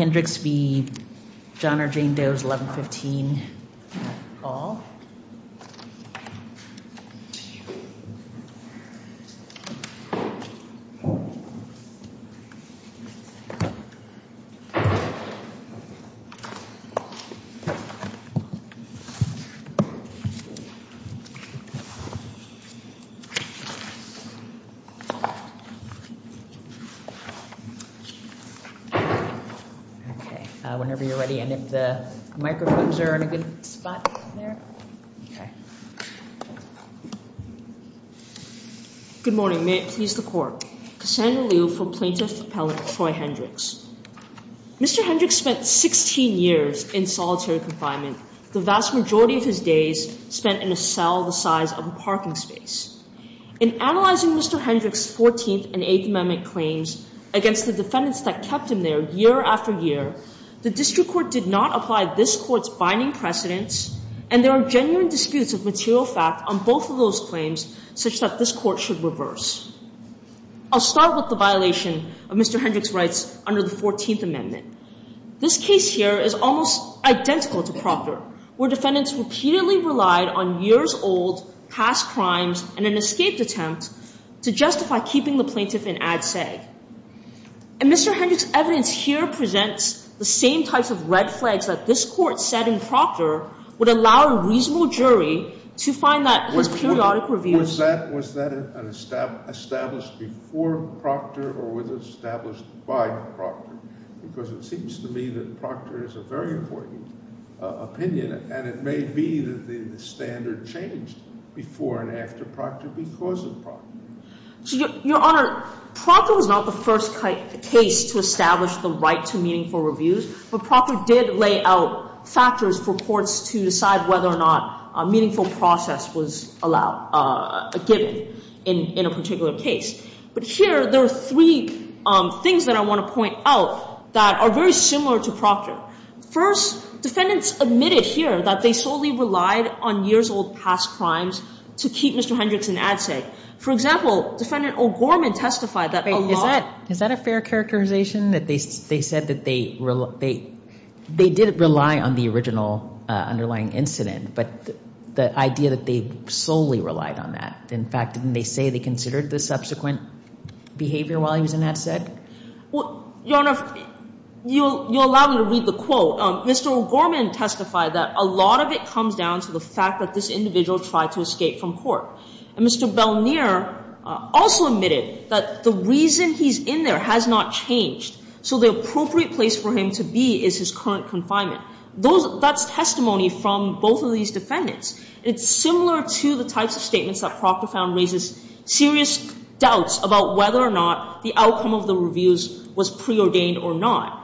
Hendricks v. John or Jane Doe's 1115 Okay, whenever you're ready and if the microphones are in a good spot there. Okay. Good morning. May it please the court. Cassandra Liu for Plaintiff Appellant Troy Hendricks. Mr. Hendricks spent 16 years in solitary confinement, the vast majority of his days spent in a cell the size of a parking space. In analyzing Mr. Hendricks' 14th and 8th Amendment claims against the defendants that kept him there year after year, the district court did not apply this court's binding precedents and there are genuine disputes of material fact on both of those claims such that this court should reverse. I'll start with the violation of Mr. Hendricks' rights under the 14th Amendment. This case here is almost identical to Proctor, where defendants repeatedly relied on years-old past crimes and an escaped attempt to justify keeping the plaintiff in ad sag. And Mr. Hendricks' evidence here presents the same types of red flags that this court said in Proctor would allow a reasonable jury to find that his periodic reviews Was that established before Proctor or was it established by Proctor? Because it seems to me that Proctor is a very important opinion and it may be that the standard changed before and after Proctor because of Proctor. Your Honor, Proctor was not the first case to establish the right to meaningful reviews, but Proctor did lay out factors for courts to decide whether or not a meaningful process was allowed, given in a particular case. But here there are three things that I want to point out that are very similar to Proctor. First, defendants admitted here that they solely relied on years-old past crimes to keep Mr. Hendricks in ad sag. For example, Defendant O'Gorman testified that a lot... Is that a fair characterization that they said that they didn't rely on the original underlying incident, but the idea that they solely relied on that? In fact, didn't they say they considered the subsequent behavior while he was in ad sag? Your Honor, you'll allow me to read the quote. Mr. O'Gorman testified that a lot of it comes down to the fact that this individual tried to escape from court. And Mr. Belnier also admitted that the reason he's in there has not changed. So the appropriate place for him to be is his current confinement. That's testimony from both of these defendants. It's similar to the types of statements that Proctor found raises serious doubts about whether or not the outcome of the reviews was preordained or not.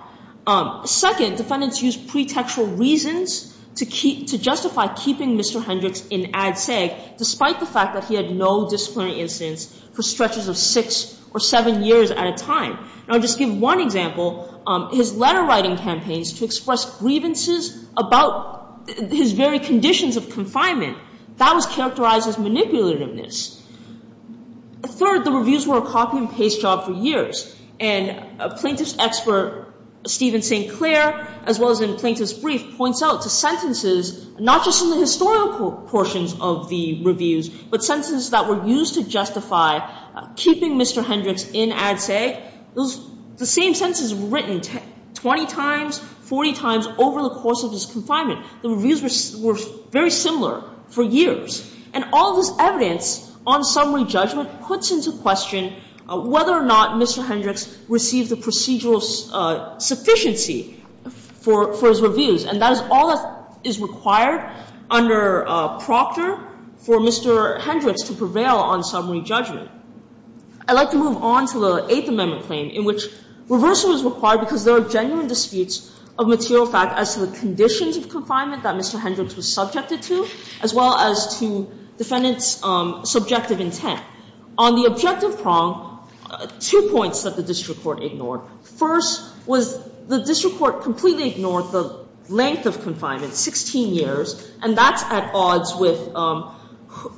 Second, defendants used pretextual reasons to justify keeping Mr. Hendricks in ad sag, despite the fact that he had no disciplinary instance for stretches of six or seven years at a time. And I'll just give one example. His letter-writing campaigns to express grievances about his very conditions of confinement, that was characterized as manipulativeness. Third, the reviews were a copy-and-paste job for years. And plaintiff's expert Stephen St. Clair, as well as in Plaintiff's Brief, points out to sentences not just in the historical portions of the reviews, but sentences that were used to justify keeping Mr. Hendricks in ad sag. The same sentences were written 20 times, 40 times over the course of his confinement. The reviews were very similar for years. And all of this evidence on summary judgment puts into question whether or not Mr. Hendricks received the procedural sufficiency for his reviews. And that is all that is required under Proctor for Mr. Hendricks to prevail on summary judgment. I'd like to move on to the Eighth Amendment claim, in which reversal is required because there are genuine disputes of material fact as to the conditions of confinement that Mr. Hendricks was subjected to, as well as to defendant's subjective intent. On the objective prong, two points that the district court ignored. First was the district court completely ignored the length of confinement, 16 years, and that's at odds with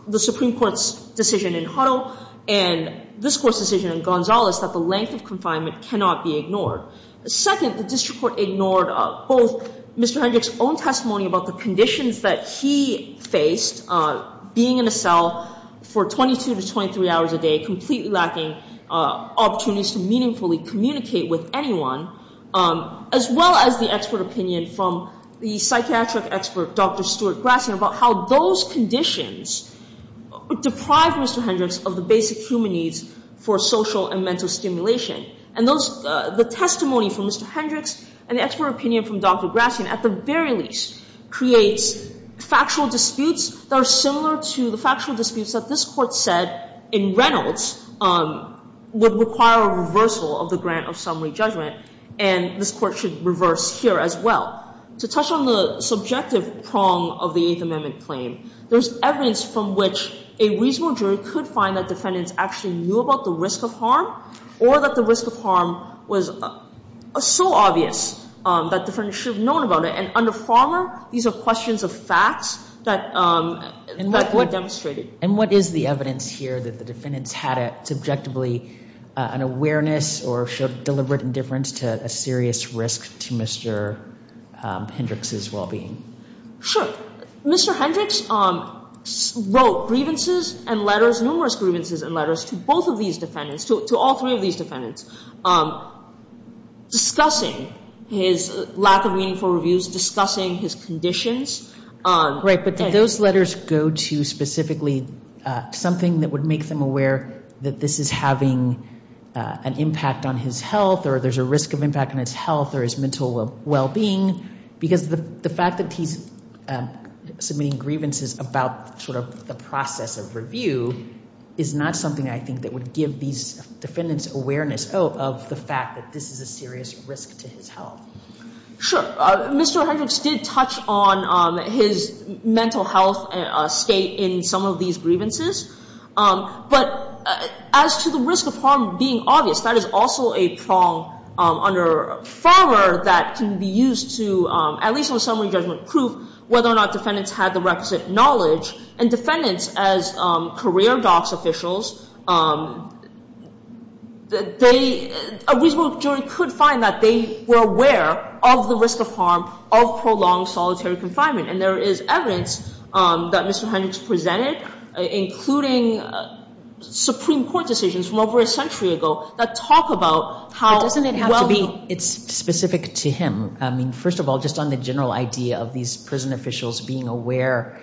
the Supreme Court's decision in Huddle and this Court's decision in Gonzales that the length of confinement cannot be ignored. Second, the district court ignored both Mr. Hendricks' own testimony about the conditions that he faced being in a cell for 22 to 23 hours a day, completely lacking opportunities to meaningfully communicate with anyone, as well as the expert opinion from the psychiatric expert Dr. Stuart Grassley about how those conditions deprived Mr. Hendricks of the basic human needs for social and mental stimulation. And the testimony from Mr. Hendricks and the expert opinion from Dr. Grassley, at the very least, creates factual disputes that are similar to the factual disputes that this Court said in Reynolds would require a reversal of the grant of summary judgment, and this Court should reverse here as well. To touch on the subjective prong of the Eighth Amendment claim, there's evidence from which a reasonable jury could find that defendants actually knew about the risk of harm or that the risk of harm was so obvious that defendants should have known about it. And under Farmer, these are questions of facts that were demonstrated. And what is the evidence here that the defendants had subjectively an awareness or showed deliberate indifference to a serious risk to Mr. Hendricks' well-being? Sure. Mr. Hendricks wrote grievances and letters, numerous grievances and letters, to both of these defendants, to all three of these defendants, discussing his lack of meaningful reviews, discussing his conditions. Right, but did those letters go to specifically something that would make them aware that this is having an impact on his health or there's a risk of impact on his health or his mental well-being? Because the fact that he's submitting grievances about sort of the process of review is not something I think that would give these defendants awareness of the fact that this is a serious risk to his health. Sure. Mr. Hendricks did touch on his mental health state in some of these grievances. But as to the risk of harm being obvious, that is also a prong under Farmer that can be used to at least on summary judgment prove whether or not defendants had the requisite knowledge. And defendants, as career DOCS officials, a reasonable jury could find that they were aware of the risk of harm of prolonged solitary confinement. And there is evidence that Mr. Hendricks presented, including Supreme Court decisions from over a century ago that talk about how well-being. But doesn't it have to be specific to him? I mean, first of all, just on the general idea of these prison officials being aware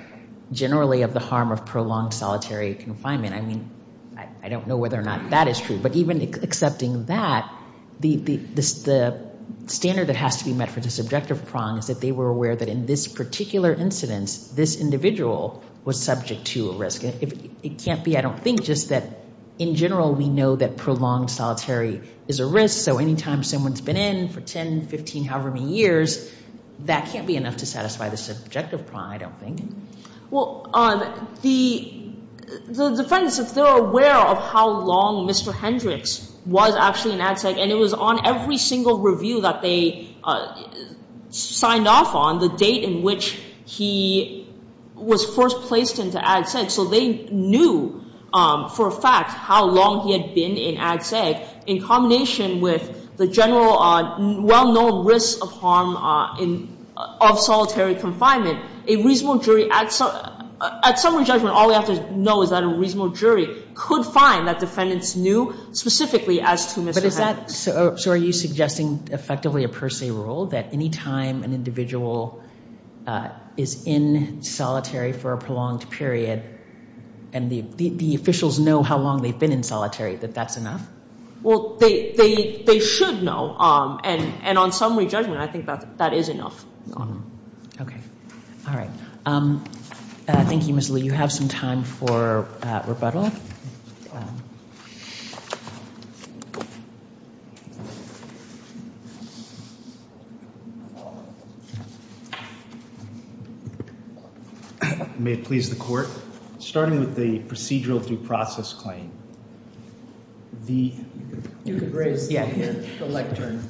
generally of the harm of prolonged solitary confinement. I mean, I don't know whether or not that is true. But even accepting that, the standard that has to be met for this objective prong is that they were aware that in this particular incidence, this individual was subject to a risk. It can't be, I don't think, just that in general we know that prolonged solitary is a risk. So any time someone's been in for 10, 15, however many years, that can't be enough to satisfy the subjective prong, I don't think. Well, the defendants, if they're aware of how long Mr. Hendricks was actually in Ag Sec, and it was on every single review that they signed off on, the date in which he was first placed into Ag Sec, so they knew for a fact how long he had been in Ag Sec in combination with the general well-known risk of harm of solitary confinement, a reasonable jury at summary judgment, all we have to know is that a reasonable jury could find that defendants knew specifically as to Mr. Hendricks. But is that, so are you suggesting effectively a per se rule, that any time an individual is in solitary for a prolonged period and the officials know how long they've been in solitary, that that's enough? Well, they should know, and on summary judgment I think that is enough. Okay. All right. Thank you, Ms. Lee. You have some time for rebuttal. May it please the Court, starting with the procedural due process claim, the… You could raise the lectern.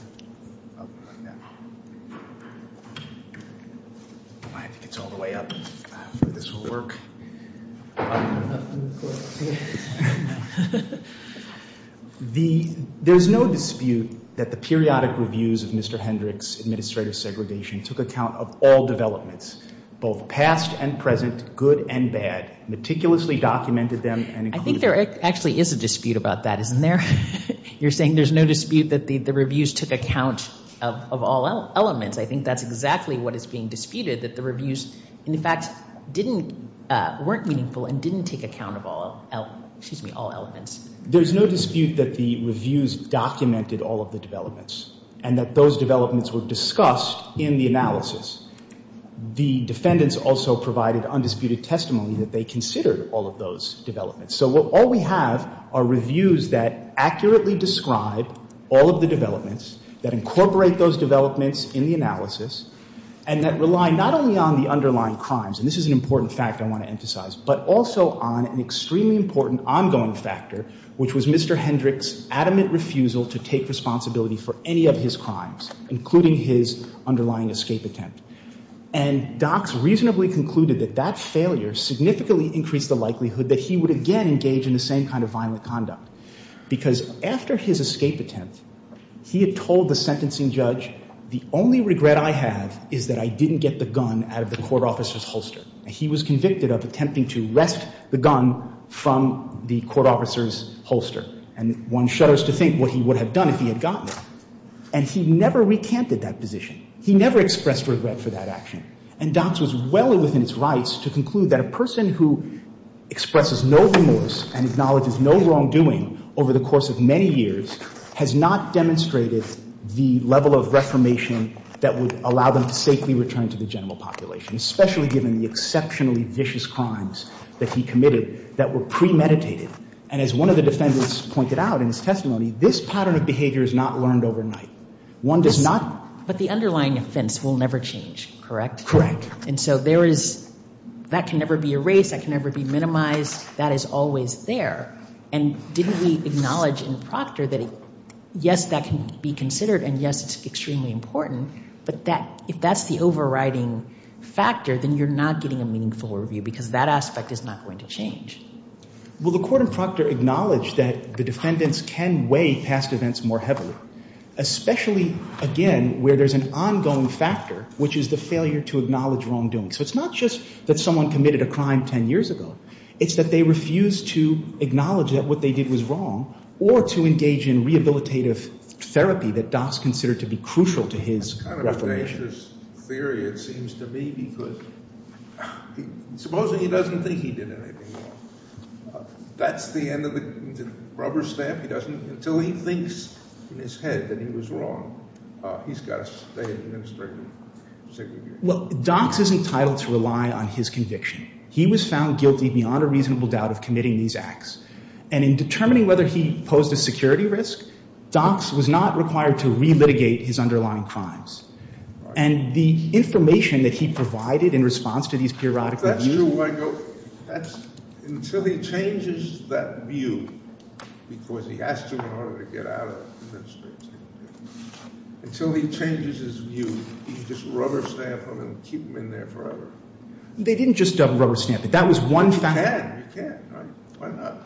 I think it's all the way up. This will work. There's no dispute that the periodic reviews of Mr. Hendricks' administrative segregation took account of all developments, both past and present, good and bad, meticulously documented them and included them. I think there actually is a dispute about that, isn't there? You're saying there's no dispute that the reviews took account of all elements. I think that's exactly what is being disputed, that the reviews, in fact, weren't meaningful and didn't take account of all elements. There's no dispute that the reviews documented all of the developments and that those developments were discussed in the analysis. The defendants also provided undisputed testimony that they considered all of those developments. So all we have are reviews that accurately describe all of the developments, that incorporate those developments in the analysis, and that rely not only on the underlying crimes, and this is an important fact I want to emphasize, but also on an extremely important ongoing factor, which was Mr. Hendricks' adamant refusal to take responsibility for any of his crimes, including his underlying escape attempt. And docs reasonably concluded that that failure significantly increased the likelihood that he would again engage in the same kind of violent conduct, because after his escape attempt, he had told the sentencing judge, the only regret I have is that I didn't get the gun out of the court officer's holster. He was convicted of attempting to wrest the gun from the court officer's holster. And one shudders to think what he would have done if he had gotten it. And he never recanted that position. He never expressed regret for that action. And docs was well within its rights to conclude that a person who expresses no remorse and acknowledges no wrongdoing over the course of many years has not demonstrated the level of reformation that would allow them to safely return to the general population, especially given the exceptionally vicious crimes that he committed that were premeditated. And as one of the defendants pointed out in his testimony, this pattern of behavior is not learned overnight. One does not – But the underlying offense will never change, correct? Correct. And so there is – that can never be erased, that can never be minimized. That is always there. And didn't we acknowledge in Proctor that, yes, that can be considered and, yes, it's extremely important, but if that's the overriding factor, then you're not getting a meaningful review because that aspect is not going to change. Well, the court in Proctor acknowledged that the defendants can weigh past events more heavily, especially, again, where there's an ongoing factor, which is the failure to acknowledge wrongdoing. So it's not just that someone committed a crime 10 years ago. It's that they refused to acknowledge that what they did was wrong or to engage in rehabilitative therapy that Dox considered to be crucial to his reformation. That's kind of a dangerous theory, it seems to me, because supposing he doesn't think he did anything wrong. That's the end of the rubber stamp? He doesn't – until he thinks in his head that he was wrong, he's got to stay in administrative segregation. Well, Dox is entitled to rely on his conviction. He was found guilty beyond a reasonable doubt of committing these acts. And in determining whether he posed a security risk, Dox was not required to relitigate his underlying crimes. And the information that he provided in response to these periodic reviews— That's true, Michael. Until he changes that view, because he has to in order to get out of administrative segregation, until he changes his view, he can just rubber stamp them and keep them in there forever. They didn't just rubber stamp it. That was one fact. Yeah, you can. Why not?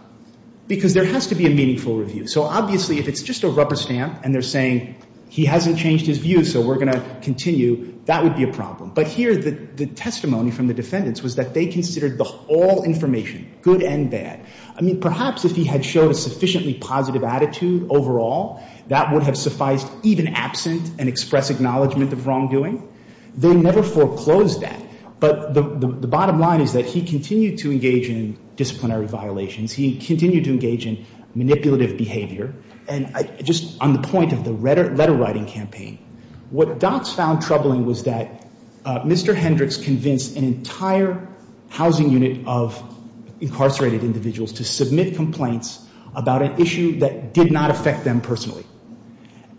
Because there has to be a meaningful review. So obviously if it's just a rubber stamp and they're saying he hasn't changed his view, so we're going to continue, that would be a problem. But here the testimony from the defendants was that they considered all information, good and bad. I mean, perhaps if he had showed a sufficiently positive attitude overall, that would have sufficed even absent an express acknowledgment of wrongdoing. They never foreclosed that. But the bottom line is that he continued to engage in disciplinary violations. He continued to engage in manipulative behavior. And just on the point of the letter-writing campaign, what Dox found troubling was that Mr. Hendricks convinced an entire housing unit of incarcerated individuals to submit complaints about an issue that did not affect them personally.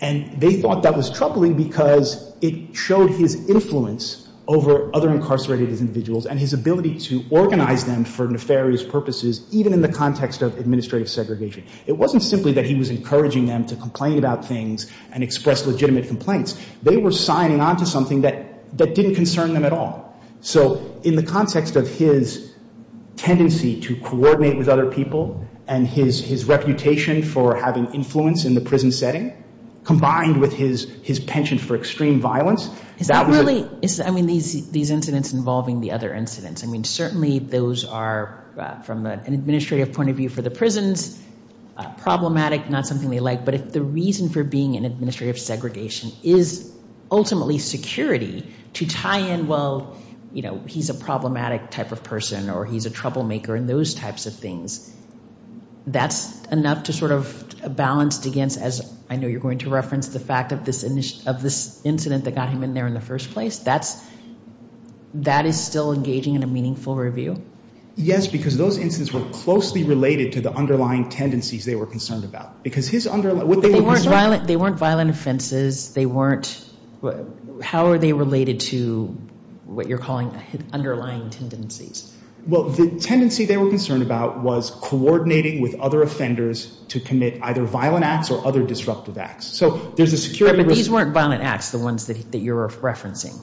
And they thought that was troubling because it showed his influence over other incarcerated individuals and his ability to organize them for nefarious purposes, even in the context of administrative segregation. It wasn't simply that he was encouraging them to complain about things and express legitimate complaints. They were signing on to something that didn't concern them at all. So in the context of his tendency to coordinate with other people and his reputation for having influence in the prison setting, combined with his penchant for extreme violence, that was a... Is that really... I mean, these incidents involving the other incidents. I mean, certainly those are, from an administrative point of view for the prisons, problematic, not something they like. But if the reason for being in administrative segregation is ultimately security to tie in, well, you know, he's a problematic type of person or he's a troublemaker and those types of things. That's enough to sort of balance against, as I know you're going to reference, the fact of this incident that got him in there in the first place? That is still engaging in a meaningful review? Yes, because those incidents were closely related to the underlying tendencies they were concerned about. Because his underlying... But they weren't violent offenses. How are they related to what you're calling underlying tendencies? Well, the tendency they were concerned about was coordinating with other offenders to commit either violent acts or other disruptive acts. So there's a security... But these weren't violent acts, the ones that you're referencing.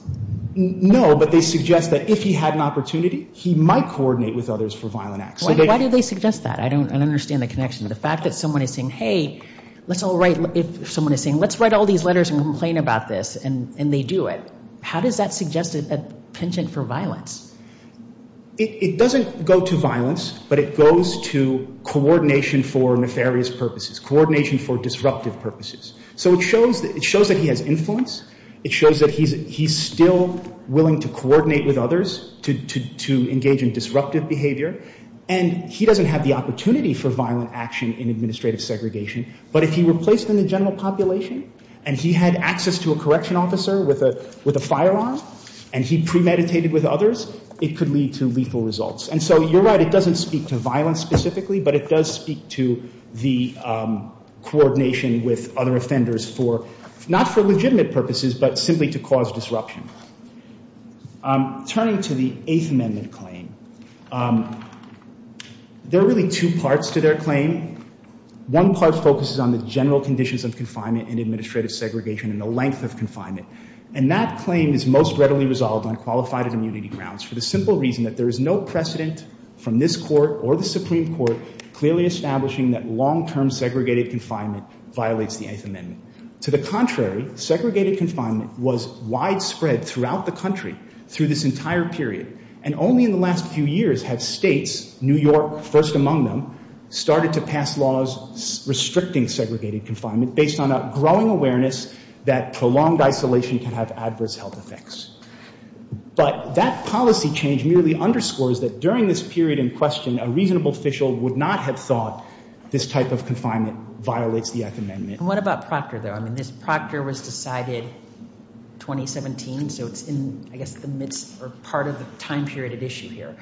No, but they suggest that if he had an opportunity, he might coordinate with others for violent acts. Why do they suggest that? I don't understand the connection to the fact that someone is saying, hey, let's all write... Someone is saying, let's write all these letters and complain about this, and they do it. How does that suggest a penchant for violence? It doesn't go to violence, but it goes to coordination for nefarious purposes, coordination for disruptive purposes. So it shows that he has influence. It shows that he's still willing to coordinate with others to engage in disruptive behavior. And he doesn't have the opportunity for violent action in administrative segregation. But if he were placed in the general population, and he had access to a correction officer with a firearm, and he premeditated with others, it could lead to lethal results. And so you're right, it doesn't speak to violence specifically, but it does speak to the coordination with other offenders for, not for legitimate purposes, but simply to cause disruption. Turning to the Eighth Amendment claim, there are really two parts to their claim. One part focuses on the general conditions of confinement and administrative segregation and the length of confinement. And that claim is most readily resolved on qualified immunity grounds for the simple reason that there is no precedent from this Court or the Supreme Court clearly establishing that long-term segregated confinement violates the Eighth Amendment. To the contrary, segregated confinement was widespread throughout the country through this entire period. And only in the last few years have states, New York first among them, started to pass laws restricting segregated confinement based on a growing awareness that prolonged isolation can have adverse health effects. But that policy change merely underscores that during this period in question, a reasonable official would not have thought this type of confinement violates the Eighth Amendment. And what about Procter, though? I mean, this Procter was decided 2017, so it's in, I guess, the midst or part of the time period at issue here.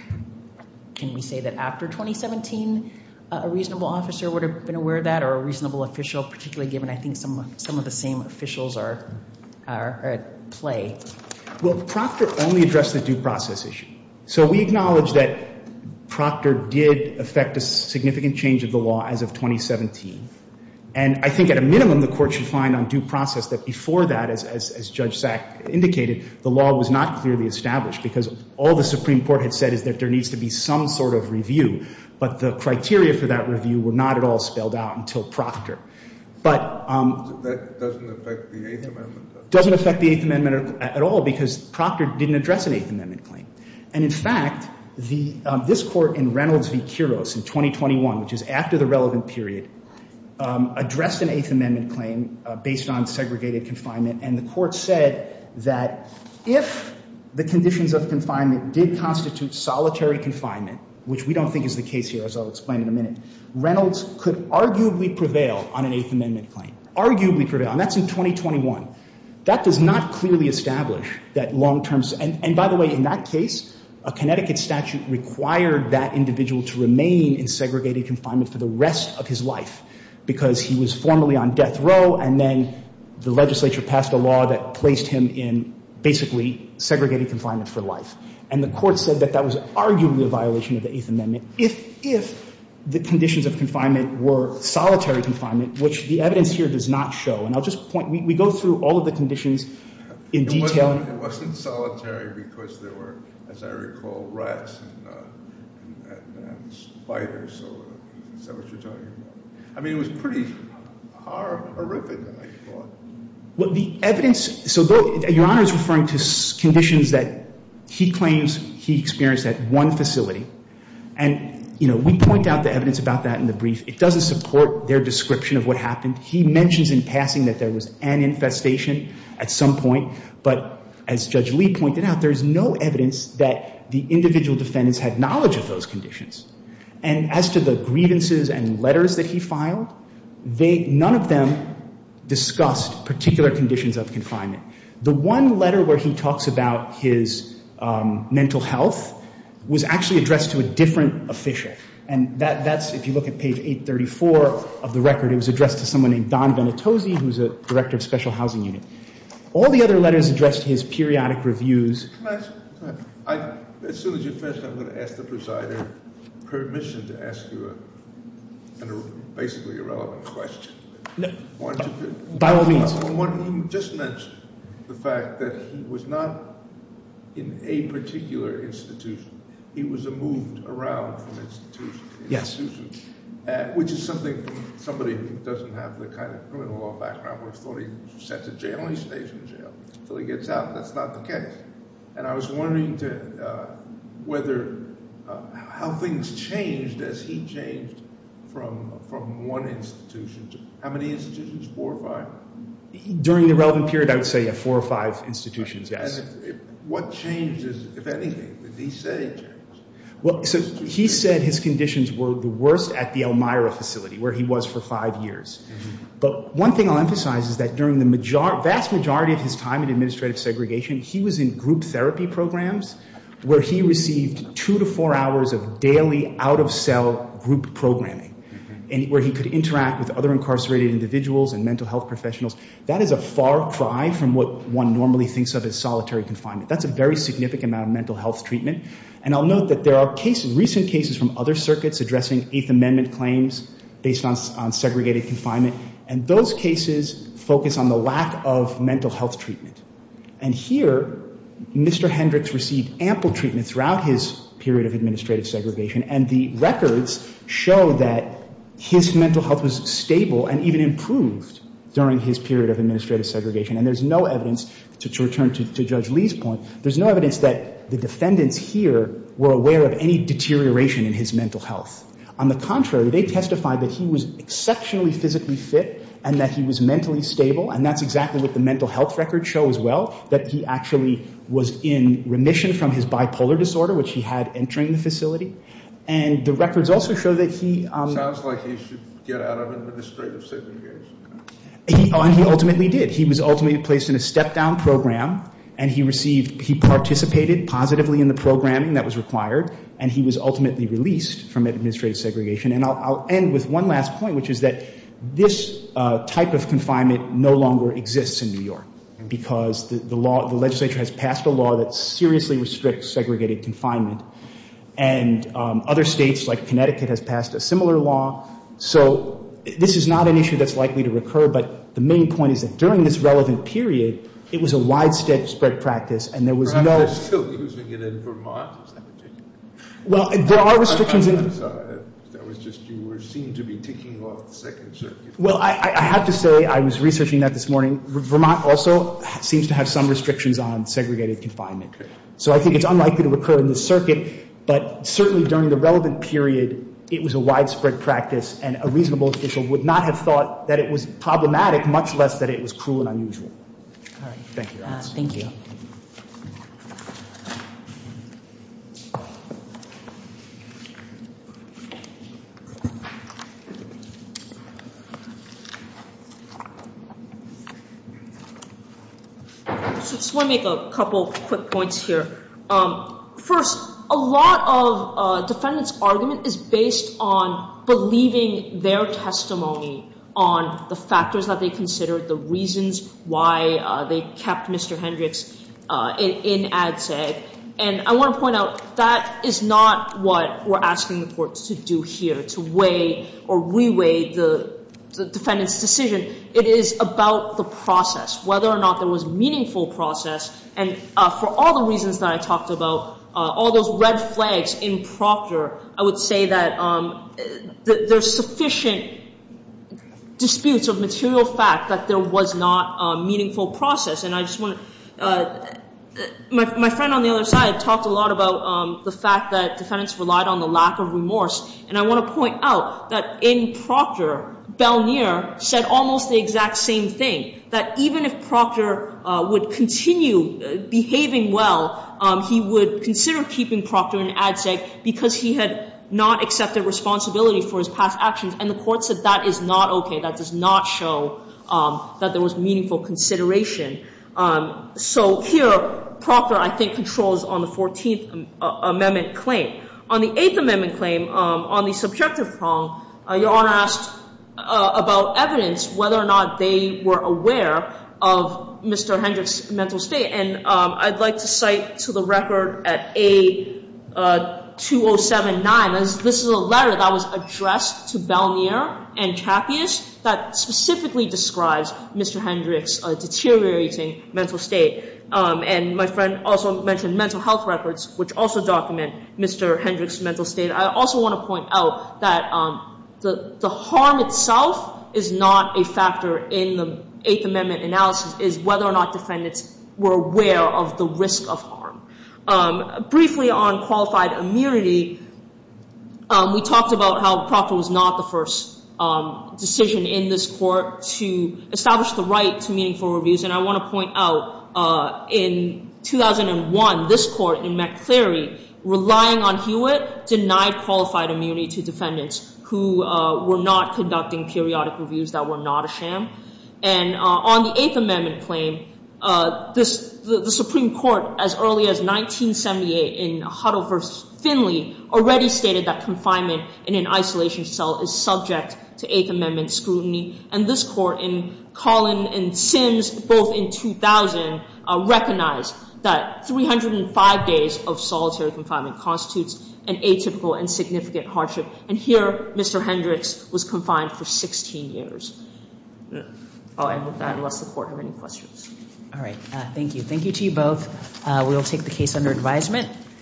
Can we say that after 2017 a reasonable officer would have been aware of that or a reasonable official, particularly given I think some of the same officials are at play? Well, Procter only addressed the due process issue. So we acknowledge that Procter did affect a significant change of the law as of 2017. And I think at a minimum the court should find on due process that before that, as Judge Sack indicated, the law was not clearly established because all the Supreme Court had said is that there needs to be some sort of review. But the criteria for that review were not at all spelled out until Procter. But— That doesn't affect the Eighth Amendment at all? Doesn't affect the Eighth Amendment at all because Procter didn't address an Eighth Amendment claim. And in fact, this court in Reynolds v. Kuros in 2021, which is after the relevant period, addressed an Eighth Amendment claim based on segregated confinement. And the court said that if the conditions of confinement did constitute solitary confinement, which we don't think is the case here, as I'll explain in a minute, Reynolds could arguably prevail on an Eighth Amendment claim, arguably prevail. And that's in 2021. That does not clearly establish that long-term— and by the way, in that case, a Connecticut statute required that individual to remain in segregated confinement for the rest of his life because he was formally on death row, and then the legislature passed a law that placed him in basically segregated confinement for life. And the court said that that was arguably a violation of the Eighth Amendment if the conditions of confinement were solitary confinement, which the evidence here does not show. And I'll just point—we go through all of the conditions in detail. It wasn't solitary because there were, as I recall, rats and spiders. Is that what you're talking about? I mean, it was pretty horrific, I thought. The evidence—so your Honor is referring to conditions that he claims he experienced at one facility. And, you know, we point out the evidence about that in the brief. It doesn't support their description of what happened. He mentions in passing that there was an infestation at some point, but as Judge Lee pointed out, there is no evidence that the individual defendants had knowledge of those conditions. And as to the grievances and letters that he filed, none of them discussed particular conditions of confinement. The one letter where he talks about his mental health was actually addressed to a different official, and that's—if you look at page 834 of the record, it was addressed to someone named Don Venitose, who was a director of special housing unit. All the other letters addressed his periodic reviews. As soon as you finish, I'm going to ask the presiding—permission to ask you a basically irrelevant question. By all means. You just mentioned the fact that he was not in a particular institution. He was moved around from institution to institution, which is something somebody who doesn't have the kind of criminal law background would have thought he was sent to jail and he stays in jail until he gets out. That's not the case. And I was wondering whether—how things changed as he changed from one institution to— how many institutions, four or five? During the relevant period, I would say four or five institutions, yes. And what changes, if anything, did he say changed? Well, so he said his conditions were the worst at the Elmira facility, where he was for five years. But one thing I'll emphasize is that during the vast majority of his time in administrative segregation, he was in group therapy programs where he received two to four hours of daily out-of-cell group programming, where he could interact with other incarcerated individuals and mental health professionals. That is a far cry from what one normally thinks of as solitary confinement. That's a very significant amount of mental health treatment. And I'll note that there are cases, recent cases, from other circuits addressing Eighth Amendment claims based on segregated confinement, and those cases focus on the lack of mental health treatment. And here, Mr. Hendricks received ample treatment throughout his period of administrative segregation, and the records show that his mental health was stable and even improved during his period of administrative segregation. And there's no evidence—to return to Judge Lee's point— there's no evidence that the defendants here were aware of any deterioration in his mental health. On the contrary, they testified that he was exceptionally physically fit and that he was mentally stable, and that's exactly what the mental health records show as well, that he actually was in remission from his bipolar disorder, which he had entering the facility. And the records also show that he— Sounds like he should get out of administrative segregation. He ultimately did. He was ultimately placed in a step-down program, and he received— he participated positively in the programming that was required, and he was ultimately released from administrative segregation. And I'll end with one last point, which is that this type of confinement no longer exists in New York because the legislature has passed a law that seriously restricts segregated confinement, and other states, like Connecticut, has passed a similar law. So this is not an issue that's likely to recur, but the main point is that during this relevant period, it was a widespread practice, and there was no— Perhaps they're still using it in Vermont, is that what you mean? Well, there are restrictions in— I'm sorry. That was just—you seemed to be ticking off the second circuit. Well, I have to say I was researching that this morning. Vermont also seems to have some restrictions on segregated confinement. Okay. So I think it's unlikely to recur in this circuit, but certainly during the relevant period, it was a widespread practice, and a reasonable official would not have thought that it was problematic, much less that it was cruel and unusual. All right. Thank you. Thank you. I just want to make a couple quick points here. First, a lot of defendants' argument is based on believing their testimony on the factors that they considered, the reasons why they kept Mr. Hendricks in ADSEG, and I want to point out that is not what we're asking the courts to do here, to weigh or re-weigh the defendant's decision. It is about the process, whether or not there was meaningful process, and for all the reasons that I talked about, all those red flags in Procter, I would say that there's sufficient disputes of material fact that there was not a meaningful process, and I just want to—my friend on the other side talked a lot about the fact that defendants relied on the lack of remorse, and I want to point out that in Procter, said almost the exact same thing, that even if Procter would continue behaving well, he would consider keeping Procter in ADSEG because he had not accepted responsibility for his past actions, and the court said that is not okay, that does not show that there was meaningful consideration. So here, Procter, I think, controls on the 14th Amendment claim. On the 8th Amendment claim, on the subjective prong, Your Honor asked about evidence, whether or not they were aware of Mr. Hendricks' mental state, and I'd like to cite to the record at A2079, this is a letter that was addressed to Balmier and Cappius, that specifically describes Mr. Hendricks' deteriorating mental state, and my friend also mentioned mental health records, which also document Mr. Hendricks' mental state. I also want to point out that the harm itself is not a factor in the 8th Amendment analysis, is whether or not defendants were aware of the risk of harm. Briefly on qualified immunity, we talked about how Procter was not the first decision in this court to establish the right to meaningful reviews, and I want to point out, in 2001, this court in McClary, relying on Hewitt, denied qualified immunity to defendants who were not conducting periodic reviews that were not a sham, and on the 8th Amendment claim, the Supreme Court, as early as 1978 in Huddle v. Finley, already stated that confinement in an isolation cell is subject to 8th Amendment scrutiny, and this court in Collins v. Sims, both in 2000, recognized that 305 days of solitary confinement constitutes an atypical and significant hardship, and here, Mr. Hendricks was confined for 16 years. I hope that addresses the court. Do you have any questions? All right. Thank you. Thank you to you both. We will take the case under advisement.